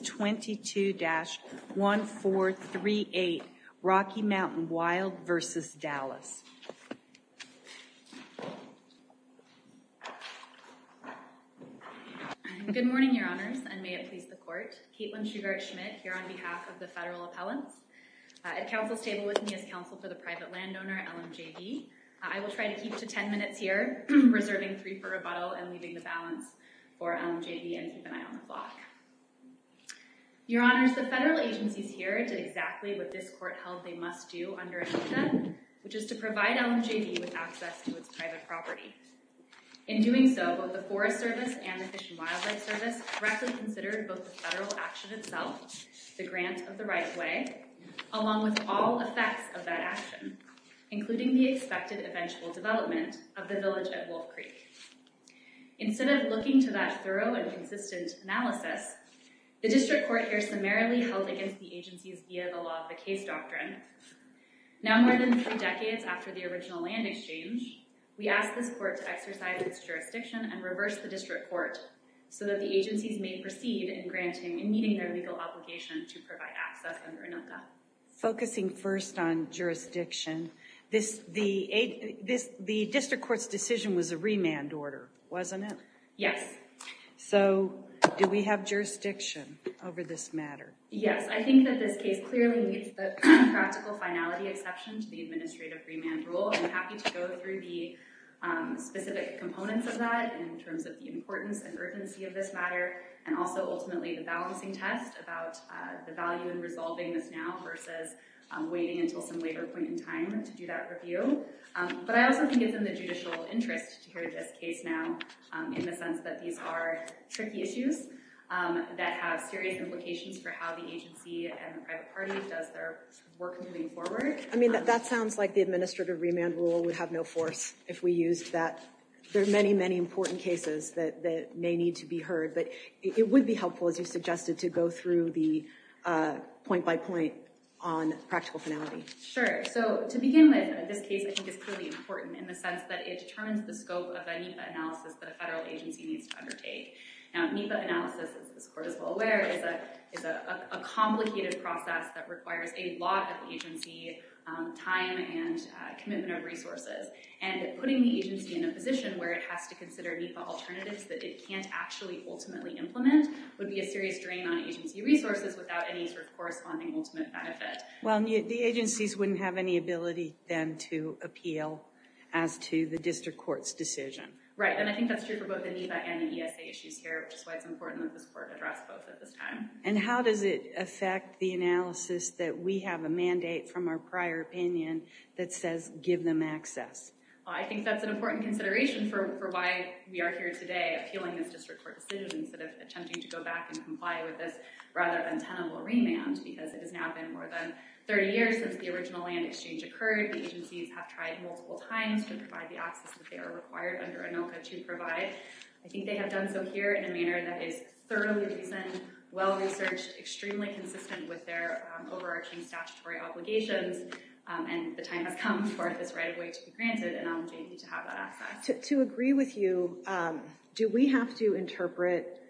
22-1438 Rocky Mountain Wild v. Dallas. Good morning, Your Honors, and may it please the Court. Caitlin Shugart-Schmidt here on behalf of the Federal Appellants. At Council's table with me is Counsel for the Private Landowner, LMJV. I will try to keep to 10 minutes here, reserving three for rebuttal and leaving the balance for LMJV, and keep an eye on the clock. Your Honors, the Federal agencies here did exactly what this Court held they must do under ADHCA, which is to provide LMJV with access to its private property. In doing so, both the Forest Service and the Fish and Wildlife Service correctly considered both the Federal action itself, the grant of the right way, along with all effects of that action, including the expected eventual development of the village at Wolf Creek. Instead of looking to that thorough and consistent analysis, the District Court here summarily held against the agencies via the law of the case doctrine. Now more than three decades after the original land exchange, we ask this Court to exercise its jurisdiction and reverse the District Court so that the agencies may proceed in granting and meeting their legal obligation to provide access under ANUCCA. Focusing first on jurisdiction, the District Court's decision was a remand order, wasn't it? Yes. So do we have jurisdiction over this matter? Yes, I think that this case clearly meets the practical finality exception to the administrative remand rule. I'm happy to go through the specific components of that in terms of the importance and urgency of this matter, and also ultimately the balancing test about the value in resolving this now versus waiting until some later point in time to do that review. But I also think it's in the judicial interest to hear this case now in the sense that these are tricky issues that have serious implications for how the agency and the private party does their work moving forward. I mean, that sounds like the administrative remand rule would have no force if we used that. There are many, many important cases that may need to be heard, but it would be helpful, as you suggested, to go through the point-by-point on practical finality. Sure. So to begin with, this case I think is clearly important in the sense that it determines the scope of a NEPA analysis that a federal agency needs to undertake. Now, NEPA analysis, as this Court is well aware, is a complicated process that requires a lot of agency time and commitment of resources, and putting the agency in a position where it has to consider NEPA alternatives that it can't actually ultimately implement would be a serious drain on agency resources without any sort of corresponding ultimate benefit. Well, the agencies wouldn't have any ability then to appeal as to the District Court's decision. Right, and I think that's true for both the NEPA and the ESA issues here, which is why it's important that this Court address both at this time. And how does it affect the analysis that we have a mandate from our prior opinion that says give them access? I think that's an important consideration for why we are here today, appealing this District Court decision instead of attempting to go back and comply with this rather untenable remand, because it has now been more than 30 years since the original land exchange occurred. The agencies have tried multiple times to provide the access that they are required under ANOCA to provide. I think they have done so here in a manner that is thoroughly reasoned, well-researched, extremely consistent with their overarching statutory obligations, and the time has come for this right-of-way to be granted, and I want the agency to have that access. To agree with you, do we have to interpret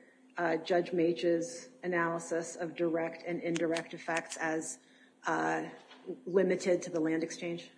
Judge Mache's analysis of direct and indirect effects as limited to the land exchange?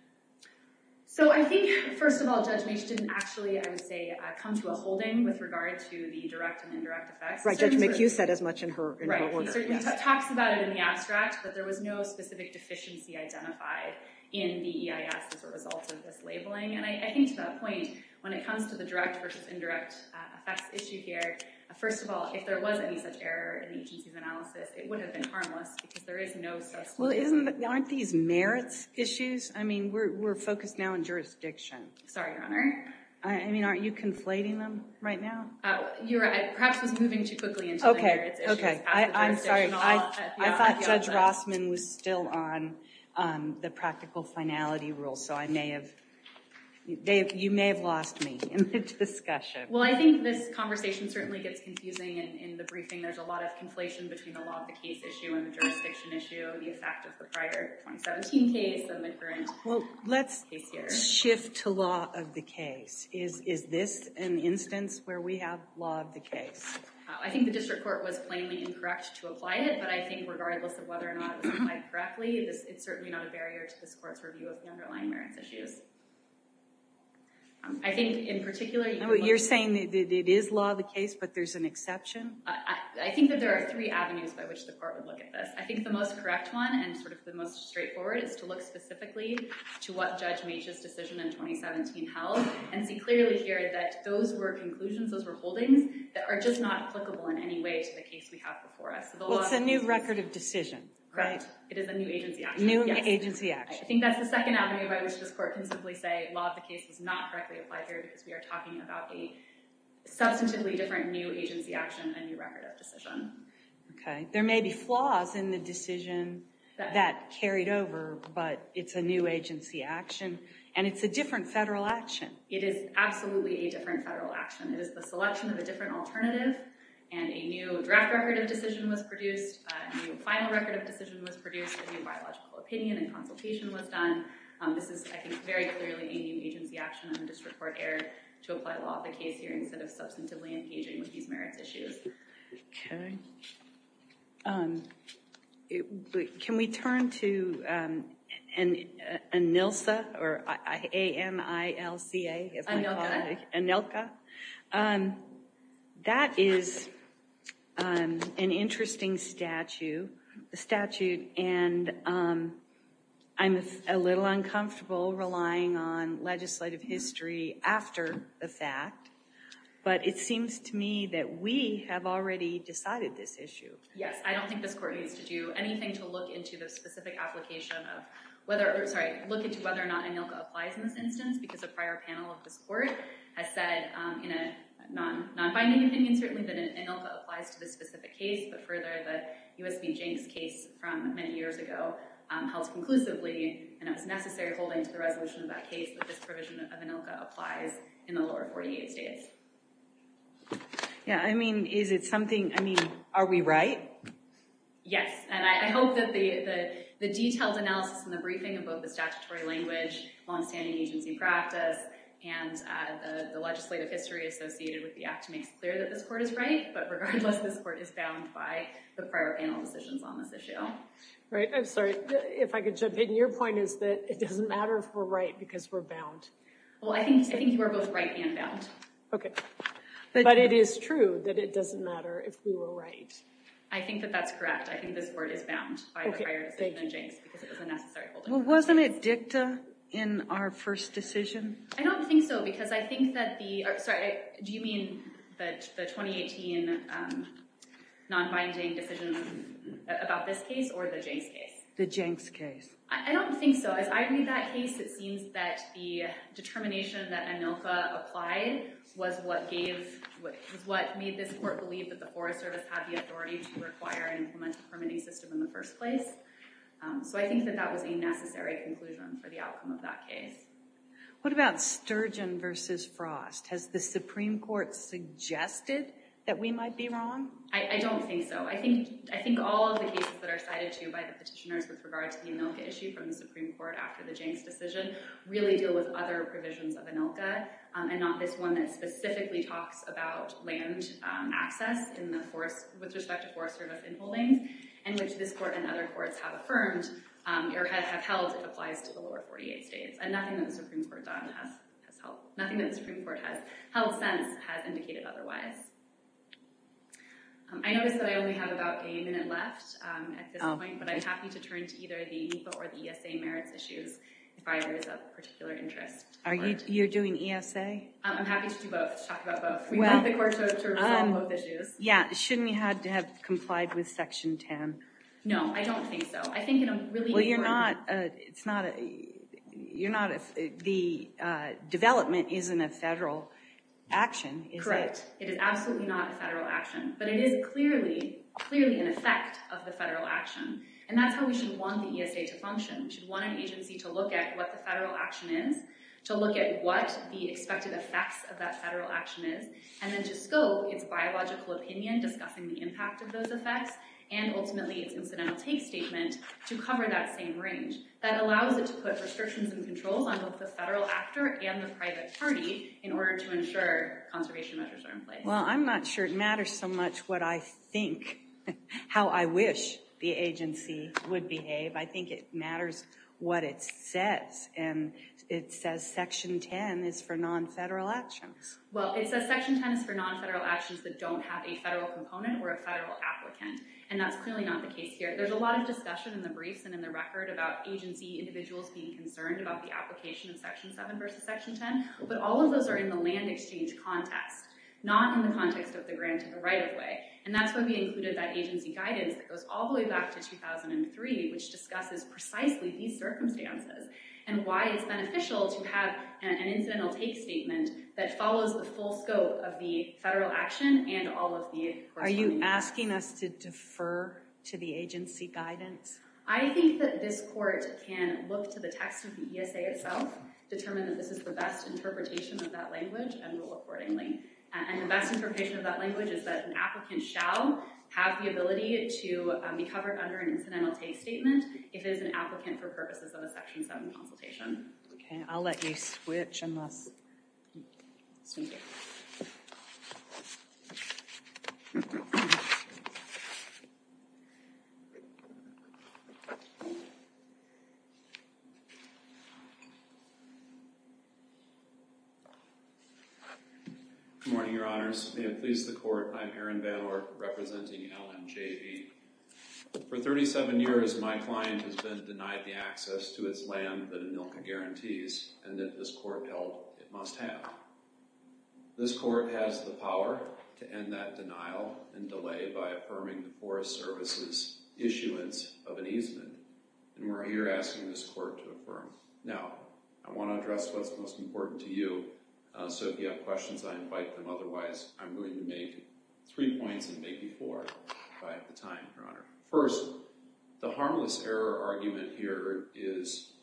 So I think, first of all, Judge Mache didn't actually, I would say, come to a holding with direct and indirect effects. Right, Judge Mache said as much in her order. He certainly talks about it in the abstract, but there was no specific deficiency identified in the EIS as a result of this labeling, and I think to that point, when it comes to the direct versus indirect effects issue here, first of all, if there was any such error in the agency's analysis, it would have been harmless because there is no substitution. Well, aren't these merits issues? I mean, we're focused now on jurisdiction. Sorry, Your Honor. I mean, aren't you conflating them right now? You're right. Perhaps I was moving too quickly into the merits issues. I'm sorry. I thought Judge Rossman was still on the practical finality rule, so I may have, you may have lost me in the discussion. Well, I think this conversation certainly gets confusing in the briefing. There's a lot of conflation between the law of the case issue and the jurisdiction issue, the effect of the prior 2017 case and the current case here. Well, let's shift to law of the case. Is this an instance where we have law of the case? I think the district court was plainly incorrect to apply it, but I think regardless of whether or not it was applied correctly, it's certainly not a barrier to this court's review of the underlying merits issues. I think, in particular, you're saying that it is law of the case, but there's an exception? I think that there are three avenues by which the court would look at this. I think the most correct one and sort of the most straightforward is to look specifically to what Judge Meech's decision in 2017 held and see clearly here that those were conclusions, those were holdings, that are just not applicable in any way to the case we have before us. Well, it's a new record of decision, right? It is a new agency action. New agency action. I think that's the second avenue by which this court can simply say law of the case was not correctly applied here because we are talking about the substantively different new agency action and new record of decision. Okay, there may be flaws in the decision that carried over, but it's a new agency action and it's a different federal action. It is absolutely a different federal action. It is the selection of a different alternative and a new draft record of decision was produced, a new final record of decision was produced, a new biological opinion and consultation was done. This is, I think, very clearly a new agency action and the district court erred to apply law of the Okay, can we turn to ANILCA, or A-M-I-L-C-A, as I call it. ANILCA. That is an interesting statute and I'm a little uncomfortable relying on legislative history after the fact, but it seems to me that we have already decided this issue. Yes, I don't think this court needs to do anything to look into the specific application of whether, sorry, look into whether or not ANILCA applies in this instance because a prior panel of this court has said in a non-binding opinion certainly that ANILCA applies to this specific case, but further the U.S. v. Jenks case from many years ago held conclusively and it was necessary holding to the resolution of that case that this provision of ANILCA applies in the lower 48 states. Yeah, I mean, is it something, I mean, are we right? Yes, and I hope that the detailed analysis and the briefing of both the statutory language, long-standing agency practice, and the legislative history associated with the act makes clear that this court is right, but regardless this court is bound by the prior panel decisions on this issue. Right, I'm sorry, if I could jump in, your point is that it doesn't matter if we're right because we're bound. Well, I think you are both right and bound. Okay, but it is true that it doesn't matter if we were right. I think that that's correct. I think this court is bound by the prior decision of Jenks because it was a necessary holding. Well, wasn't it dicta in our first decision? I don't think so because I think that the, sorry, do you mean that the 2018 non-binding decisions about this case or the Jenks case? The Jenks case. I don't think so. As I read that case, it seems that the determination that ANILFA applied was what gave, what made this court believe that the Forest Service had the authority to require and implement a permitting system in the first place, so I think that that was a necessary conclusion for the outcome of that case. What about Sturgeon v. Frost? Has the Supreme Court suggested that we might be wrong? I don't think so. I think all of the cases that are cited to you by the Supreme Court after the Jenks decision really deal with other provisions of ANILFA and not this one that specifically talks about land access with respect to Forest Service infill lanes, in which this court and other courts have affirmed or have held it applies to the lower 48 states, and nothing that the Supreme Court has held since has indicated otherwise. I notice that I only have about a minute left at this point, but I'm happy to turn to either the ANILFA or the ESA merits issues if I raise a particular interest. Are you doing ESA? I'm happy to do both, to talk about both. We want the court to resolve both issues. Yeah, shouldn't you have to have complied with Section 10? No, I don't think so. I think in a really important... Well, you're not, it's not, you're not, the development isn't a federal action, is it? Correct. It is absolutely not a federal action, but it is clearly, clearly an effect of the federal action, and that's how we should want the ESA to function. We should want an agency to look at what the federal action is, to look at what the expected effects of that federal action is, and then to scope its biological opinion, discussing the impact of those effects, and ultimately its incidental take statement to cover that same range. That allows it to put restrictions and controls on both the federal actor and the private party in order to ensure conservation measures are in place. Well, I'm not sure it matters so much what I think, how I wish the agency would behave. I think it matters what it says, and it says Section 10 is for non-federal actions. Well, it says Section 10 is for non-federal actions that don't have a federal component or a federal applicant, and that's clearly not the case here. There's a lot of discussion in the briefs and in the record about agency individuals being concerned about the application of Section 7 versus Section 10, but all of those are in the land exchange context, not in the context of the grant to the right-of-way, and that's when we included that agency guidance that goes all the way back to 2003, which discusses precisely these circumstances and why it's beneficial to have an incidental take statement that follows the full scope of the federal action and all of the... Are you asking us to defer to the agency guidance? I think that this court can look to the text of the ESA itself, determine that this is the best interpretation of that language, and rule accordingly. And the best interpretation of that language is that an applicant shall have the ability to be covered under an incidental take statement if it is an applicant for purposes of a Section 7 consultation. Okay, I'll let you switch unless... Good morning, Your Honors. May it please the Court, I'm Aaron Balor representing LMJB. For 37 years, my client has been denied the access to its land that Amilca guarantees, and that this court held it must have. This court has the power to end that denial and delay by affirming the Forest Service's issuance of an easement, and we're here asking this court to do that. And I think that's what's most important to you. So if you have questions, I invite them. Otherwise, I'm going to make three points and make you four if I have the time, Your Honor. First, the harmless error argument here is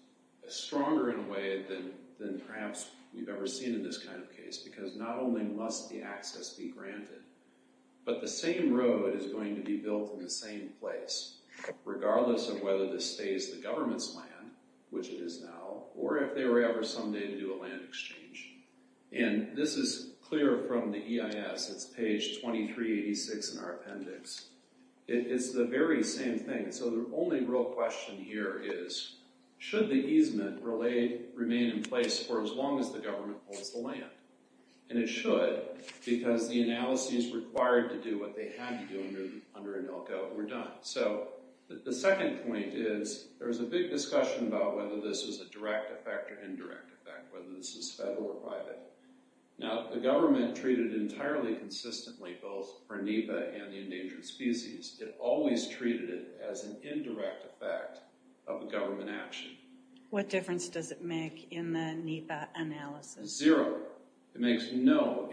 stronger in a way than perhaps we've ever seen in this kind of case, because not only must the access be granted, but the same road is going to be built in the same place, regardless of whether this stays the government's land, which it is now, or if they were ever someday to do a land exchange. And this is clear from the EIS. It's page 2386 in our appendix. It's the very same thing. So the only real question here is, should the easement remain in place for as long as the government holds the land? And it should, because the analysis required to do what they had to do under Amilca were done. So the second point is, there was a big discussion about whether this was a direct effect or indirect effect, whether this is federal or private. Now, the government treated it entirely consistently, both for NEPA and the endangered species. It always treated it as an indirect effect of a government action. What difference does it make in the NEPA analysis? Zero. It makes no...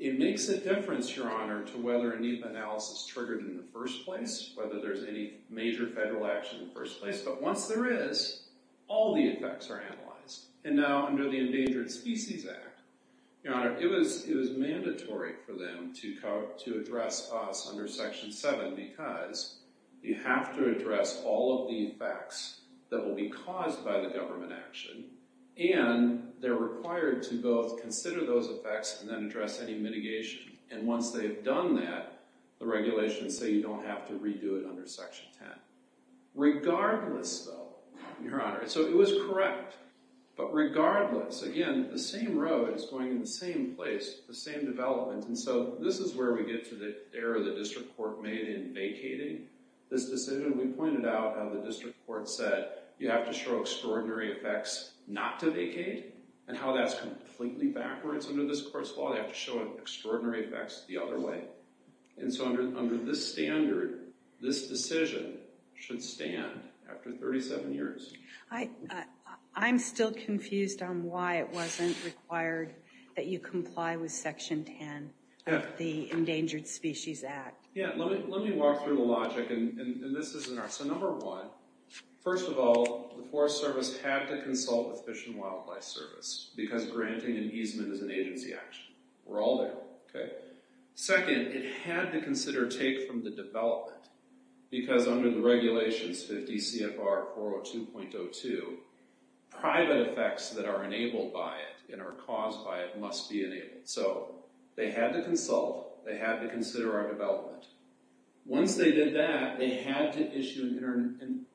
It makes a difference, Your Honor, to whether a NEPA analysis triggered in the first place, whether there's any major federal action in the first place. But once there is, all the effects are analyzed. And now, under the Endangered Species Act, Your Honor, it was mandatory for them to address us under Section 7, because you have to address all of the effects that will be caused by the government action, and they're required to both consider those effects and then address any mitigation. And once they've done that, the regulations say you don't have to redo it under Section 10. Regardless, though, Your Honor... So it was correct, but regardless, again, the same road is going in the same place, the same development. And so this is where we get to the error the district court made in vacating this decision. We pointed out how the district court said, you have to show extraordinary effects not to vacate, and how that's completely backwards under this court's law, they have to show extraordinary effects the other way. And so under this standard, this decision should stand after 37 years. I'm still confused on why it wasn't required that you comply with Section 10 of the Endangered Species Act. Yeah, let me walk through the logic, and this isn't our... So number one, first of all, the Forest Service had to consult with Fish and Wildlife Service, because granting an easement is an agency action. We're all there. Second, it had to consider take from the development, because under the regulations 50 CFR 402.02, private effects that are enabled by it and are caused by it must be enabled. So they had to consult, they had to consider our development. Once they did that, they had to issue an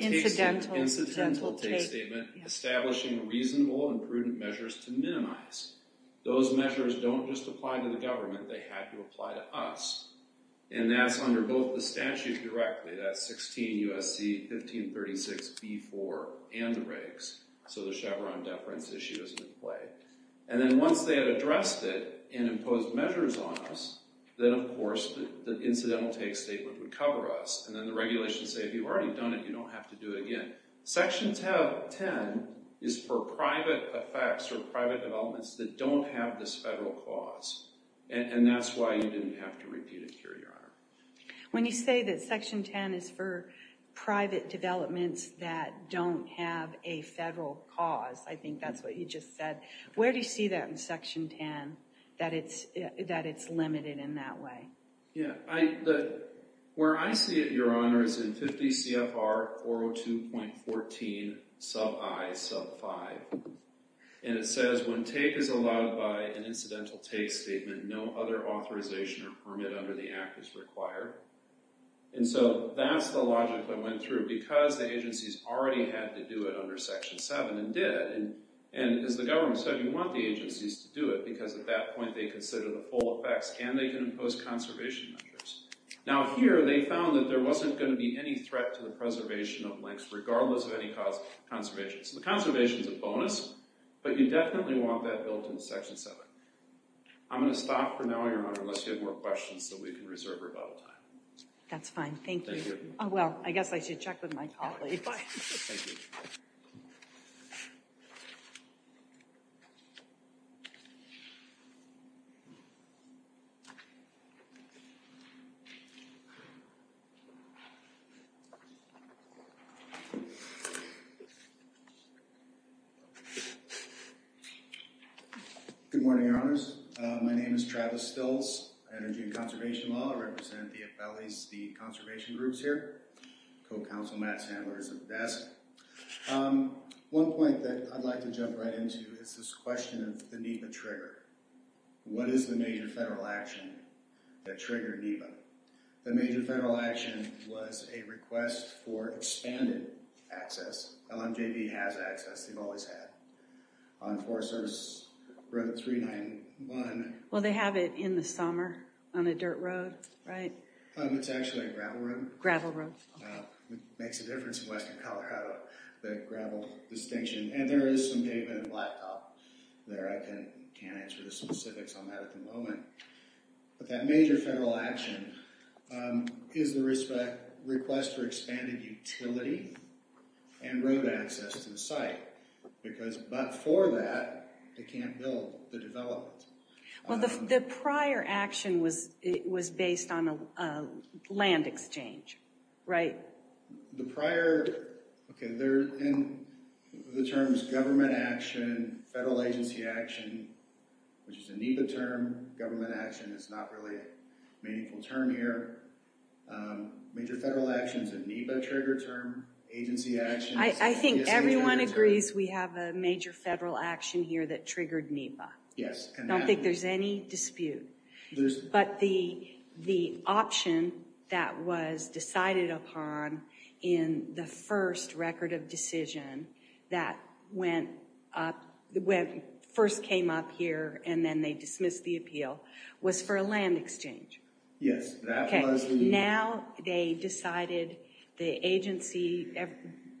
incidental take statement, establishing reasonable and prudent measures to minimize. Those measures don't just apply to the government, they had to apply to us. And that's under both the statute directly, that's 16 U.S.C. 1536b4 and the regs, so the Chevron deference issue is in play. And then once they had addressed it and imposed measures on us, then of course the incidental take statement would cover us, and then the regulations say, if you've already done it, you don't have to do it again. Section 10 is for private effects or private developments that don't have this federal cause, and that's why you didn't have to repeat it here, Your Honor. When you say that Section 10 is for private developments that don't have a federal cause, I think that's what you just said, where do you see that in Section 10, that it's limited in that way? Yeah, where I see it, Your Honor, is in 50 CFR 402.14 sub I sub 5, and it says when take is allowed by an incidental take statement, no other authorization or permit under the act is required. And so that's the logic I went through, because the agencies already had to do it under Section 7 and did, and as the government said, you want the agencies to do it, because at that point they consider the full effects, and they can impose conservation measures. Now here, they found that there wasn't going to be any threat to the preservation of links, regardless of any cause of conservation. So the conservation is a bonus, but you definitely want that built into Section 7. I'm going to stop for now, Your Honor, unless you have more questions, so we can reserve rebuttal time. That's fine, thank you. Oh well, I guess I should check with my colleagues. Good morning, Your Honors. My name is Travis Stiltz, Energy and Conservation Law. I represent the FLEC conservation groups here. Co-counsel Matt Sandler is at the desk. One point that I'd like to jump right into is this question of the NEPA trigger. What is the major federal action that triggered NEPA? The major federal action was a request for expanded access. LMJB has access, they've always had, on Forest Service Road 391. Well, they have it in the summer on a dirt road, right? It's actually a gravel road. It makes a difference in western Colorado, that gravel distinction, and there is some pavement and blacktop there. I can't answer the specifics on that at the moment, but that major federal action is the request for expanded utility and road access to the site, because but for that, they can't build the development. Well, the prior action was based on a land exchange, right? The prior, okay, they're in the terms government action, federal agency action, which is a NEPA term. Government action is not really a meaningful term here. Major federal actions in NEPA trigger term, agency action. I think everyone agrees we have a major federal action here that triggered NEPA. Yes. I don't think there's any dispute, but the option that was decided upon in the first record of decision that first came up here and then they dismissed the appeal was for a land exchange. Yes, that was the move. Now they decided the agency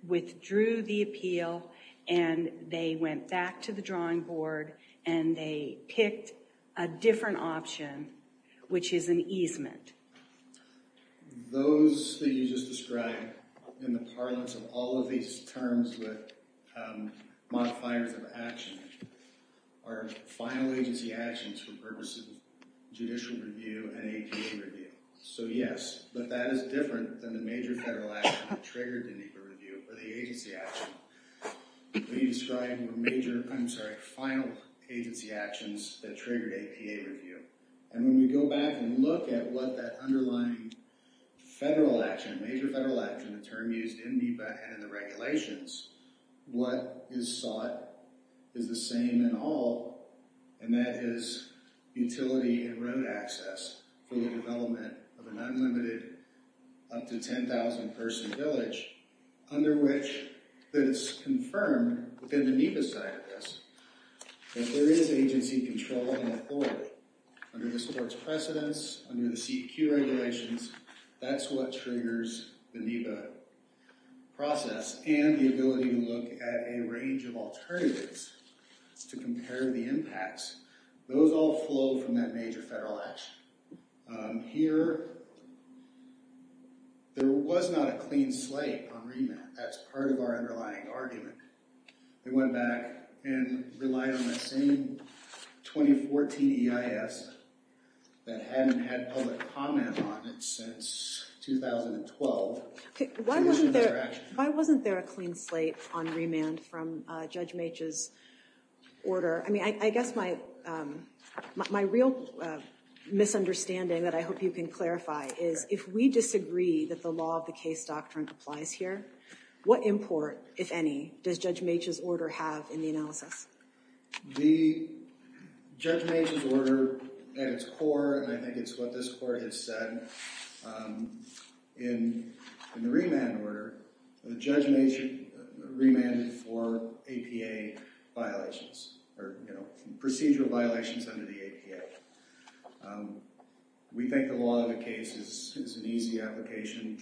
withdrew the appeal and they went back the drawing board and they picked a different option, which is an easement. Those that you just described in the parlance of all of these terms with modifiers of action are final agency actions for purposes of judicial review and APA review. So yes, but that is different than the major federal action that triggered NEPA review or the agency action. What you described were major, I'm sorry, final agency actions that triggered APA review. And when we go back and look at what that underlying federal action, major federal action, the term used in NEPA and in the regulations, what is sought is the same in all and that is utility and road access for the development of an unlimited up to 10,000 person village under which it's confirmed within the NEPA side of this that there is agency control and authority. Under this board's precedence, under the CEQ regulations, that's what triggers the NEPA process and the ability to look at a range of alternatives to compare the impacts. Those all flow from that major federal action. Here, there was not a clean slate on remand. That's part of our underlying argument. They went back and relied on the same 2014 EIS that hadn't had public comment on it since 2012. Why wasn't there a clean slate on remand from Judge Meech's order? I mean, I guess my real misunderstanding that I hope you can clarify is if we disagree that the law of the case doctrine applies here, what import, if any, does Judge Meech's order have in the analysis? The Judge Meech's order, at its core, and I think it's what this court has said, in the remand order, the Judge Meech remanded for APA violations or, you know, procedural violations under the APA. We think the law of the case is an easy application.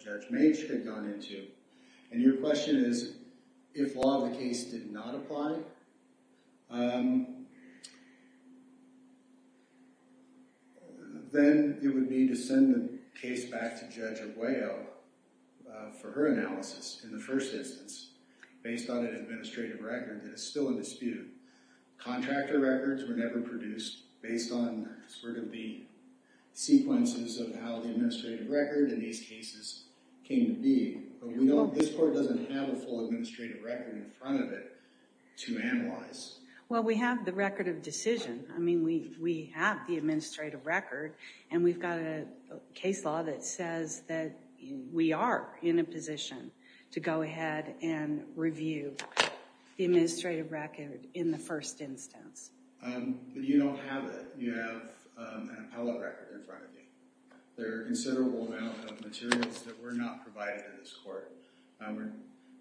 Judge Meech's remand is, if law of the case did not apply, then it would be to send the case back to Judge Aguayo for her analysis in the first instance, based on an administrative record that is still in dispute. Contractor records were never produced based on sort of the sequences of how the administrative record in these cases came to be, but we know this court doesn't have a full administrative record in front of it to analyze. Well, we have the record of decision. I mean, we have the administrative record, and we've got a case law that says that we are in a position to go ahead and review the administrative record in the first instance. But you don't have it. You have an appellate record in front of you. There are a considerable amount of materials that were not provided to this court.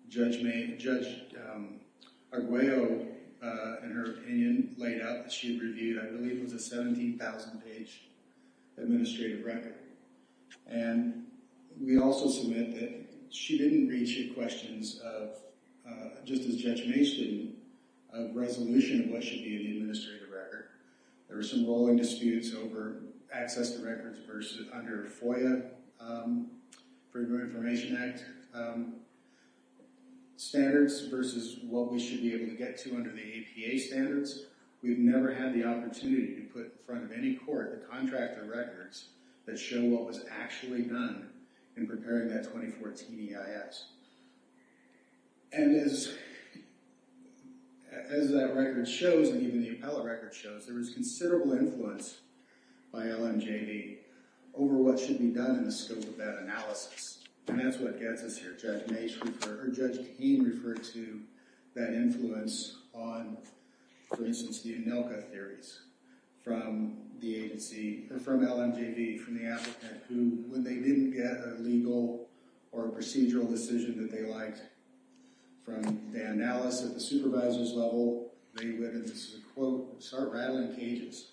Judge Aguayo, in her opinion, laid out that she reviewed, I believe it was a 17,000-page administrative record. And we also submit that she didn't reach the questions of, just as Judge Meech did, a resolution of what should be the administrative record. There were some rolling disputes over access to records versus under FOIA, Freedom of Information Act, standards versus what we should be able to get to under the APA standards. We've never had the opportunity to put in front of any court the contractor records that show what was actually done in preparing that 2014 EIS. And as that record shows, and even the appellate record shows, there was considerable influence by LMJB over what should be done in the scope of that analysis. And that's what gets us here. Judge Meech referred, or Judge Keene referred to that influence on, for instance, the ANILCA theories from the agency, or from LMJB, from the applicant who, when they didn't get a legal or a procedural decision that they liked, from Dan Ellis at the supervisor's level, they would, and this is a quote, start rattling cages.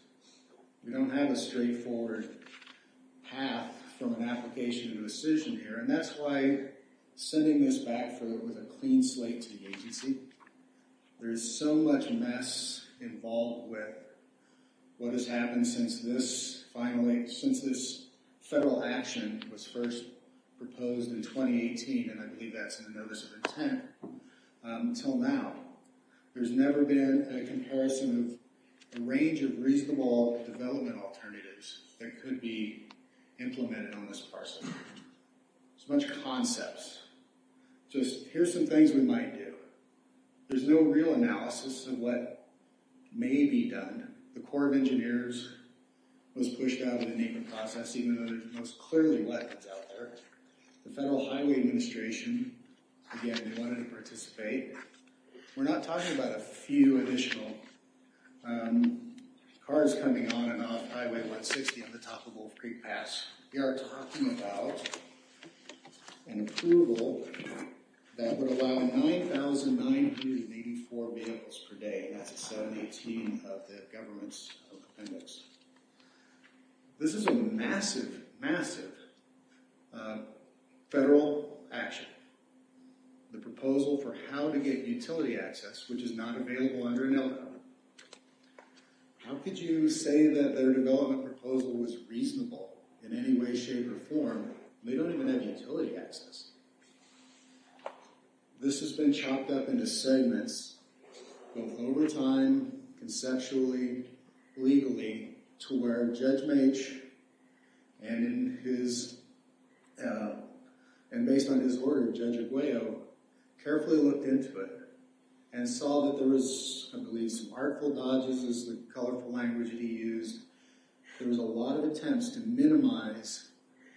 We don't have a straightforward path from an application to a decision here. And that's why sending this back with a clean slate to the agency, there's so much mess involved with what has happened since this finally, since this proposed in 2018, and I believe that's in the notice of intent, until now. There's never been a comparison of a range of reasonable development alternatives that could be implemented on this parcel. It's a bunch of concepts. Just, here's some things we might do. There's no real analysis of what may be done. The Corps of Engineers was pushed out of the naming process, even though there's clearly weapons out there. The Federal Highway Administration, again, wanted to participate. We're not talking about a few additional cars coming on and off Highway 160 on the top of Wolf Creek Pass. We are talking about an approval that would allow 9,984 vehicles per day, and that's out of the team of the government's appendix. This is a massive, massive federal action. The proposal for how to get utility access, which is not available under an LRA. How could you say that their development proposal was reasonable in any way, shape, or form? They don't even have utility access. This has been chopped up into segments, both over time, conceptually, legally, to where Judge Maitch and based on his order, Judge Aguayo, carefully looked into it and saw that there was, I believe, some artful dodges, is the colorful language that he used. There was a lot of attempts to minimize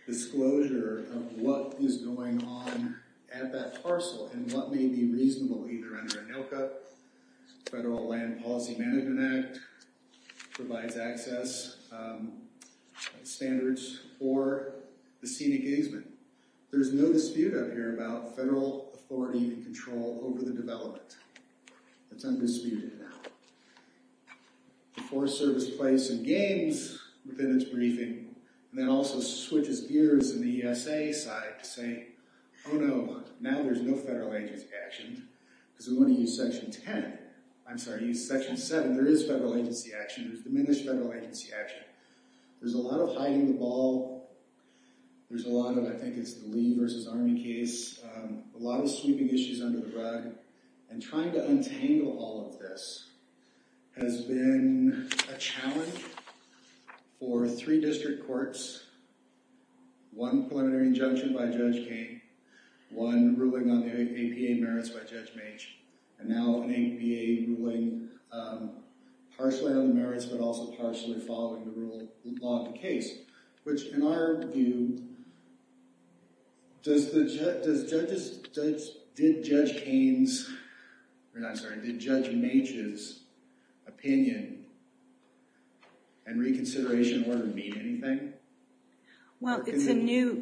disclosure of what is going on at that parcel and what may be reasonable, either under a NALCA, Federal Land Policy Management Act, provides access standards for the scenic easement. There's no dispute out here about federal authority and control over the development. That's undisputed now. The Forest Service plays some games within its briefing, and then also switches gears in the ESA side to say, oh no, now there's no federal agency action, because we want to use Section 10. I'm sorry, use Section 7. There is federal agency action. There's diminished federal agency action. There's a lot of hiding the ball. There's a lot of, I think it's the Lee versus Army case, a lot of sweeping issues under the rug, and trying to untangle all of this has been a challenge for three district courts, one preliminary injunction by Judge Kane, one ruling on the APA merits by Judge Mage, and now an APA ruling partially on the merits, but also partially following the rule, law of the case, which in our view, did Judge Kane's, I'm sorry, did Judge Mage's opinion and reconsideration order mean anything? Well, it's a new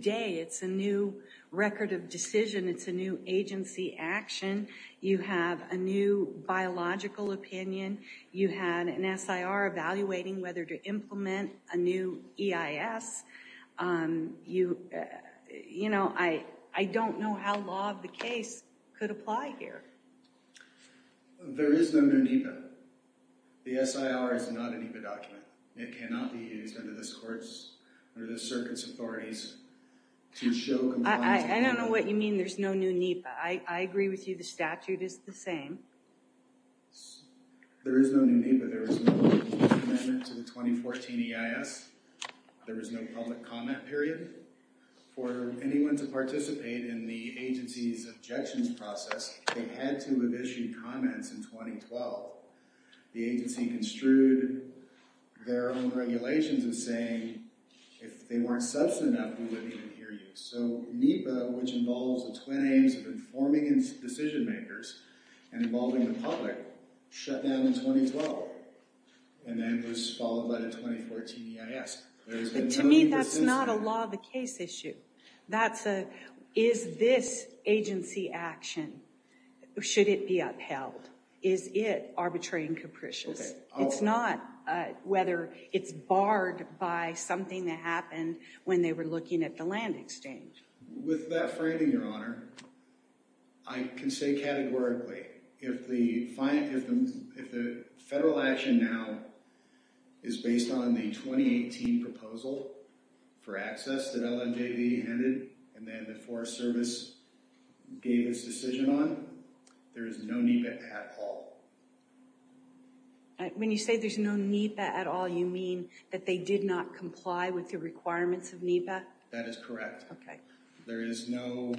day. It's a new record of decision. It's a new agency action. You have a new biological opinion. You had an SIR evaluating whether to implement a new EIS. You know, I don't know how law of the case could apply here. There is no new NEPA. The SIR is not a NEPA document. It cannot be used under this court's, under this circuit's authorities to show compliance. I don't know what you mean, there's no new NEPA. I agree with you, the statute is the same. There is no new NEPA. There was no amendment to the 2014 EIS. There was no public comment period. For anyone to participate in the agency's objections process, they had to have issued comments in 2012. The agency construed their own regulations as saying, if they weren't substantive, we wouldn't even hear you. So NEPA, which involves the twin aims of informing its decision makers and involving the public, shut down in 2012 and then was followed by the 2014 EIS. To me, that's not a law of the case issue. That's a, is this agency action, should it be upheld? Is it arbitrary and capricious? It's not whether it's barred by something that happened when they were looking at the land exchange. With that framing, your honor, I can say categorically, if the federal action now is based on the 2018 proposal for access that LNJD handed and then the Forest Service gave its decision on, there is no NEPA at all. When you say there's no NEPA at all, you mean that they did not comply with the requirements of NEPA? That is correct. There is no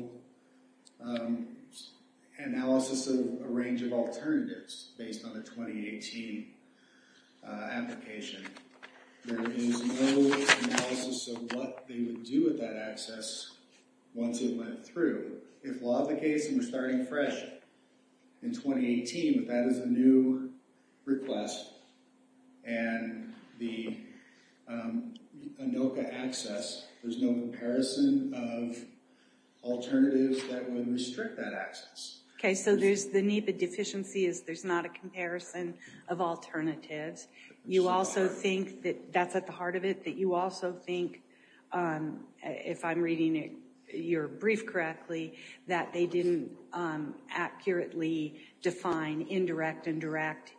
analysis of a range of alternatives based on the 2018 application. There is no analysis of what they would do with that access once it went through. If law of the land has a new request and the ANOCA access, there's no comparison of alternatives that would restrict that access. Okay, so there's the NEPA deficiency is there's not a comparison of alternatives. You also think that that's at the heart of it, that you also think, if I'm reading your brief correctly, that they didn't accurately define indirect and direct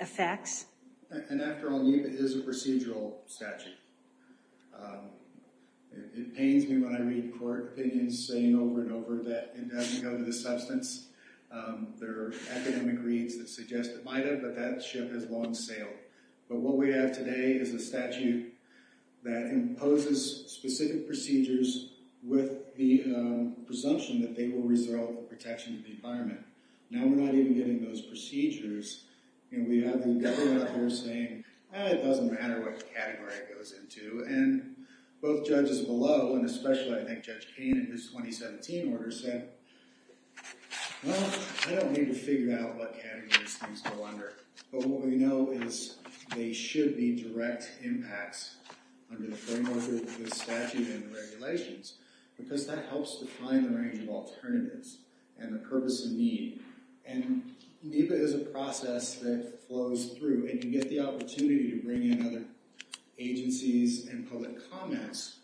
effects? After all, NEPA is a procedural statute. It pains me when I read court opinions saying over and over that it doesn't go to the substance. There are academic reads that suggest it might have, but that ship has long sailed. But what we have today is a statute that imposes specific procedures with the presumption that they will resolve the protection of the environment. Now we're not even getting those procedures and we have the government out there saying it doesn't matter what category it goes into. And both judges below, and especially I think Judge Kane in his 2017 order, said well, I don't need to figure out what categories things go under. But what we know is they should be direct impacts under the framework of the statute and the regulations because that helps define the range of alternatives and the purpose of need. And NEPA is a process that flows through and you get the opportunity to bring in other agencies and public comments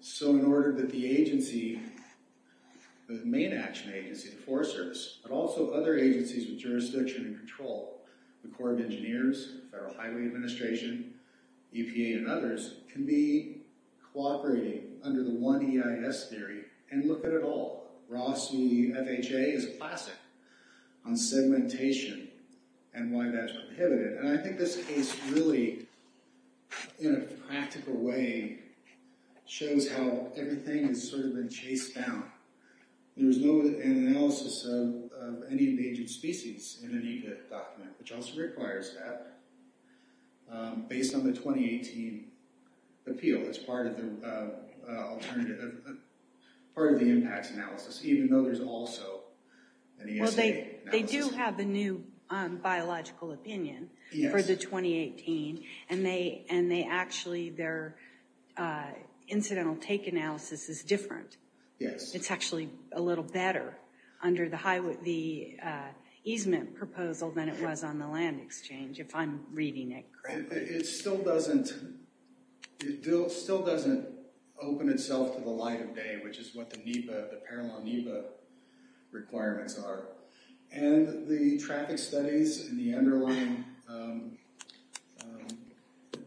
so in order that the agency, the main action agency, the Forest Service, but also other agencies with jurisdiction and control, the Corps of Engineers, Federal Highway Administration, EPA and others, can be cooperating under the one EIS theory and look at it all. Rossi FHA is a classic on segmentation and why that's prohibited. And I think this case really, in a practical way, shows how everything has sort of been chased down. There was no analysis of any endangered species in the NEPA document, which also requires that, based on the 2018 appeal as part of the alternative, part of the impacts analysis, even though there's also an ESA analysis. They do have a new biological opinion for the 2018 and they actually, their different. Yes. It's actually a little better under the easement proposal than it was on the land exchange, if I'm reading it correctly. It still doesn't, it still doesn't open itself to the light of day, which is what the NEPA, the parallel NEPA requirements are. And the traffic studies and the underlying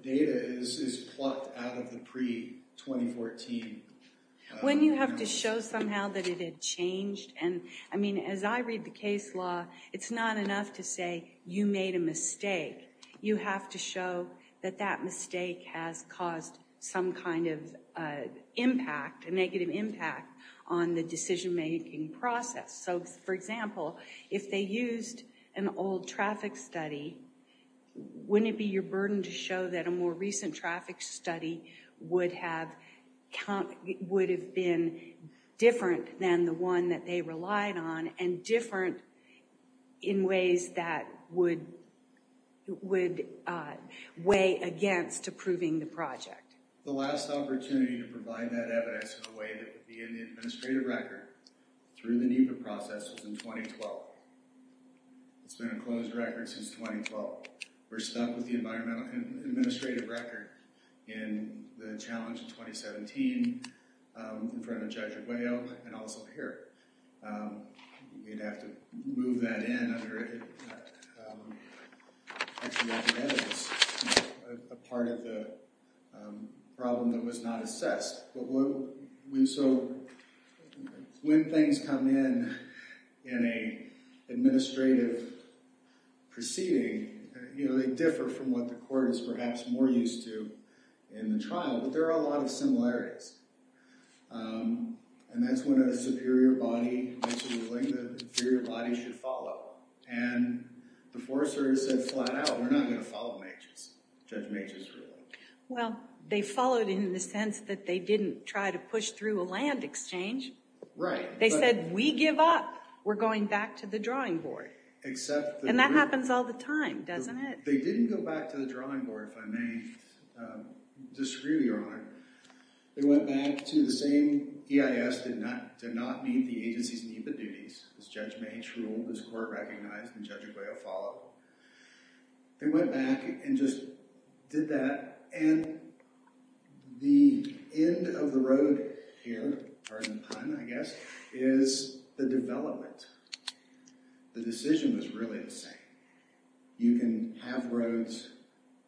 data is plucked out of the pre-2014. When you have to show somehow that it had changed and, I mean, as I read the case law, it's not enough to say you made a mistake. You have to show that that mistake has caused some kind of impact, a negative impact, on the old traffic study. Wouldn't it be your burden to show that a more recent traffic study would have would have been different than the one that they relied on and different in ways that would would weigh against approving the project? The last opportunity to provide that evidence in a closed record since 2012. We're stuck with the environmental and administrative record in the challenge in 2017 in front of Judge Aguayo and also here. You'd have to move that in under a part of the problem that was not assessed. But what we, so when things come in in an administrative proceeding, you know, they differ from what the court is perhaps more used to in the trial, but there are a lot of similarities. And that's when a superior body makes a ruling the inferior body should follow. And the forester said flat out, we're not going to follow Majors. Judge Majors ruled. Well, they followed in the sense that they didn't try to push through a We're going back to the drawing board. And that happens all the time, doesn't it? They didn't go back to the drawing board, if I may disagree with your honor. They went back to the same EIS, did not meet the agency's NEPA duties. As Judge Majors ruled, as the court recognized, and Judge Aguayo followed. They went back and just did that. And the end of the road here, pardon the pun, I guess, is the development. The decision was really the same. You can have roads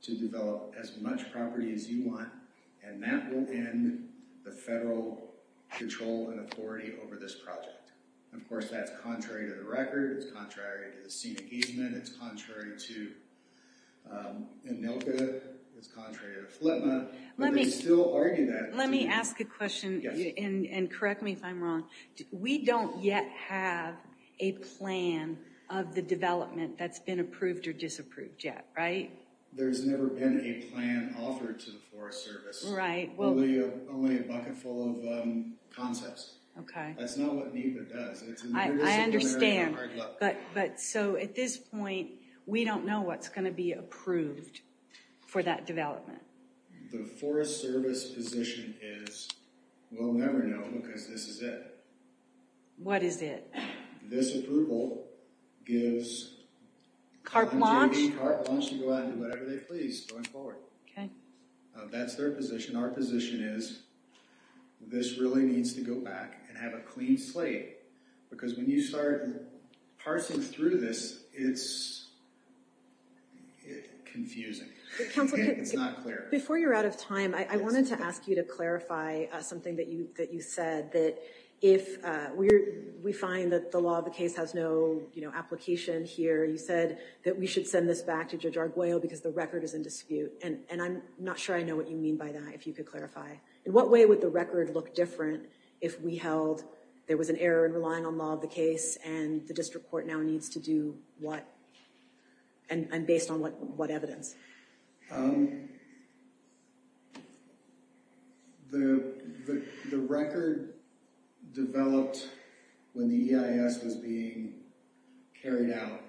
to develop as much property as you want, and that will end the federal control and authority over this project. Of course, that's contrary to the record. It's contrary to the scene engagement. It's contrary to ANILCA. It's contrary to FLTMA. Let me ask a question, and correct me if I'm wrong. We don't yet have a plan of the development that's been approved or disapproved yet, right? There's never been a plan offered to the Forest Service. Right. Only a bucket full of concepts. Okay. That's not what NEPA does. I understand, but so at this point, we don't know what's going to be approved for that development. The Forest Service position is, we'll never know because this is it. What is it? This approval gives... CARP launch? CARP launch to go out and do whatever they please going forward. Okay. That's their position. Our position is this really needs to go back and have a clean slate because when you start parsing through this, it's confusing. It's not clear. Before you're out of time, I wanted to ask you to clarify something that you said that if we find that the law of the case has no application here, you said that we should send this back to Judge Arguello because the record is in dispute. I'm not sure I know what you mean by that, if you could clarify. In what way would the record look different if we held there was an error in relying on law of the case and the district court now needs to do what and based on what evidence? The record developed when the EIS was being carried out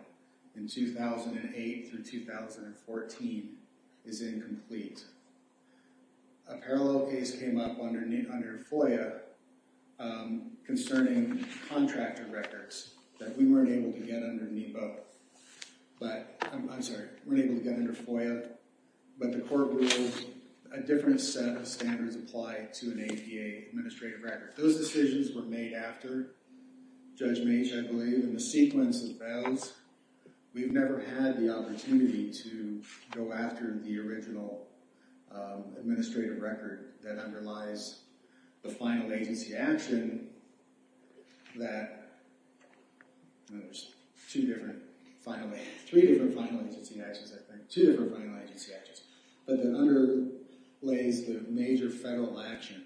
in 2008 through 2014 is incomplete. A parallel case came up under FOIA concerning contractor records that we weren't able to get under NEPA. I'm sorry, we weren't able to get under FOIA, but the court ruled a different set of standards apply to an APA administrative record. Those decisions were made after Judge Meech, I believe, and the sequence of those. We've never had the opportunity to go after the original administrative record that underlies the final agency action that, you know, there's two different final, three different final agency actions, I think, two different final agency actions, but that underlays the major federal action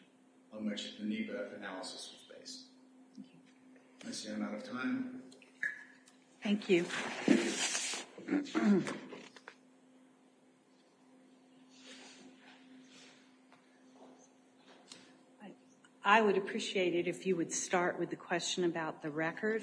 on which the NEPA analysis was based. I see I'm out of time. Thank you. I would appreciate it if you would start with the question about the record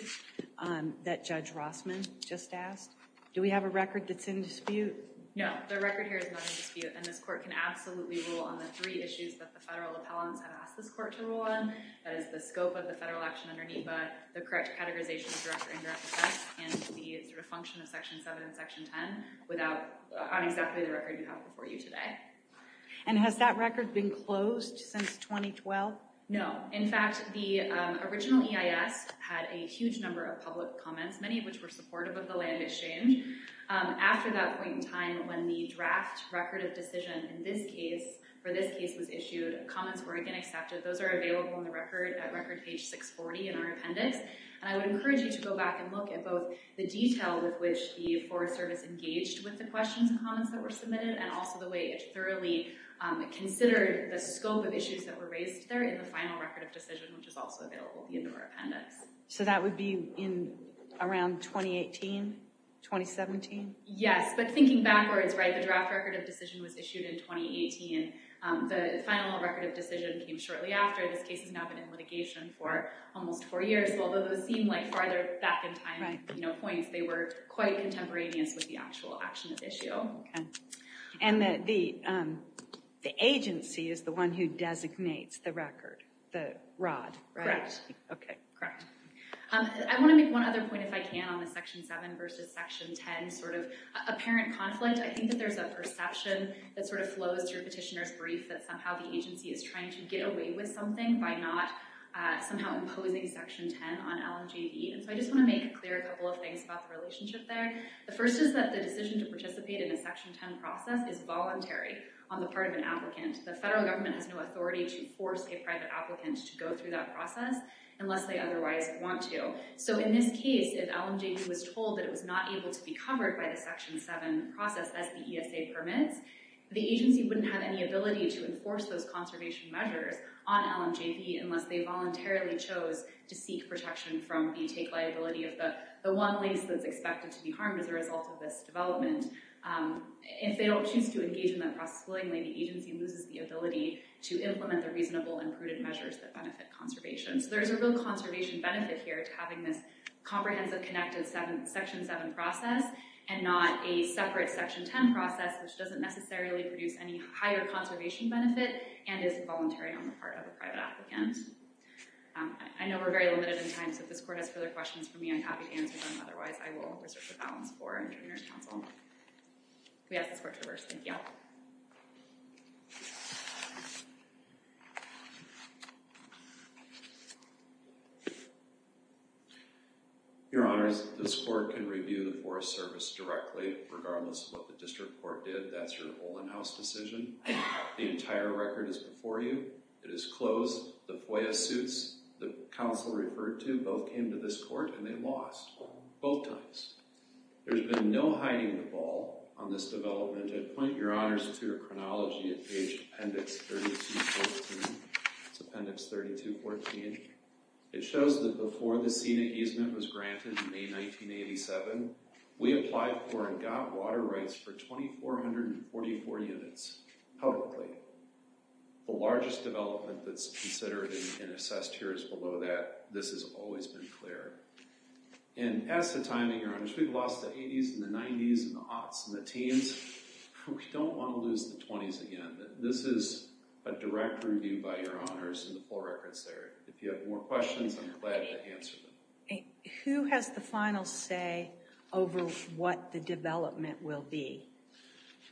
that Judge Rossman just asked. Do we have a record that's in dispute? No, the record here is not in dispute, and this court can absolutely rule on the three issues that the federal appellants have asked this court to rule on. That is the scope of the federal action under NEPA, the correct categorization of direct or indirect effects, and the sort of function of Section 7 and Section 10 without, on exactly the record you have before you today. And has that record been closed since 2012? No. In fact, the original EIS had a huge number of public comments, many of which were supportive of the land exchange. After that point in time, when the draft record of decision in this case, for this case was issued, comments were again accepted. Those are available in the record page 640 in our appendix, and I would encourage you to go back and look at both the detail with which the Forest Service engaged with the questions and comments that were submitted, and also the way it thoroughly considered the scope of issues that were raised there in the final record of decision, which is also available in our appendix. So that would be in around 2018, 2017? Yes, but thinking backwards, right, the draft record of decision was issued in 2018. The final record of decision came shortly after. This case has now been in litigation for almost four years, although those seem like farther back in time points. They were quite contemporaneous with the actual action of issue. And the agency is the one who designates the record, the rod, right? Correct. Okay, correct. I want to make one other point, if I can, on the Section 7 versus Section 10 apparent conflict. I think that there's a perception that sort of flows through Petitioner's Brief that somehow the agency is trying to get away with something by not somehow imposing Section 10 on LMJB. And so I just want to make clear a couple of things about the relationship there. The first is that the decision to participate in a Section 10 process is voluntary on the part of an applicant. The federal government has no authority to force a private applicant to go through that process unless they otherwise want to. So in this case, if LMJB was told that it was not able to be covered by the Section 7 process as the ESA permits, the agency wouldn't have any ability to enforce those conservation measures on LMJB unless they voluntarily chose to seek protection from the take liability of the one lease that's expected to be harmed as a result of this development. If they don't choose to engage in that process willingly, the agency loses the ability to implement the reasonable and prudent measures that benefit conservation. So there's a real conservation benefit here to having this comprehensive connected Section 7 process and not a separate Section 10 process, which doesn't necessarily produce any higher conservation benefit and is voluntary on the part of a private applicant. I know we're very limited in time, so if this Court has further questions for me, I'm happy to answer them. Otherwise, I will research the balance for Interveners Council. We ask this Court to reverse. Thank you. Your Honors, this Court can review the Forest Service directly regardless of what the District Court did. That's your Olin House decision. The entire record is before you. It is closed. The FOIA suits the Council referred to both came to this Court and they lost both times. There's been no hiding the ball on this development. I'd point your Honors to your It shows that before the SENA easement was granted in May 1987, we applied for and got water rights for 2,444 units publicly. The largest development that's considered and assessed here is below that. This has always been clear. And as the timing, your Honors, we've lost the 80s and the 90s and the aughts and the teens. We don't want to lose the 20s again. This is a direct review by your Honors in the full records there. If you have more questions, I'm glad to answer them. Who has the final say over what the development will be?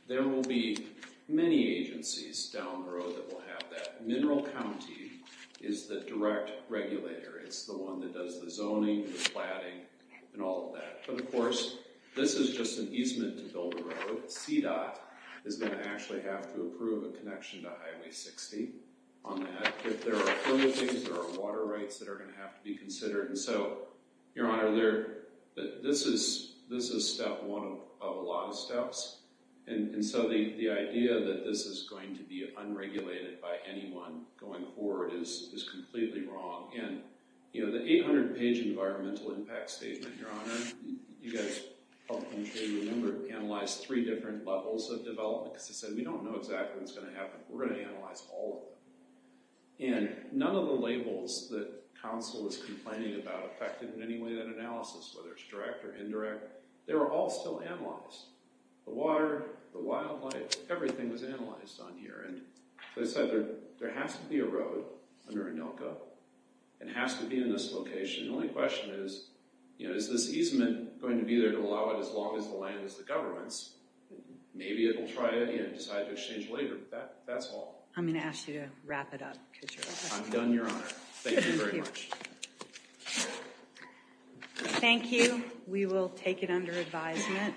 There will be many agencies down the road that will have that. Mineral County is the direct regulator. It's the one that does the zoning, the planning, and all of that. But of course, this is just an easement to build a road. CDOT is going to actually have to approve a connection to Highway 60 on that. If there are permit things, there are water rights that are going to have to be considered. And so, your Honor, this is step one of a lot of steps. And so the idea that this is going to be unregulated by anyone going forward is completely wrong. And the 800-page environmental impact statement, your Honor, you guys helped me remember to analyze three different levels of development because I said we don't know exactly what's going to happen. We're going to analyze all of them. And none of the labels that Council is complaining about affected in any way that analysis, whether it's direct or indirect. They were all still analyzed. The water, the wildlife, everything was analyzed on here. And so I said there has to be a road under ANILCA. It has to be in this location. The only question is, you know, is this easement going to be there to allow it as long as the land is the government's? Maybe it'll try it and decide to exchange later. That's all. I'm going to ask you to wrap it up. I'm done, your Honor. Thank you very much. Thank you. We will take it under advisement.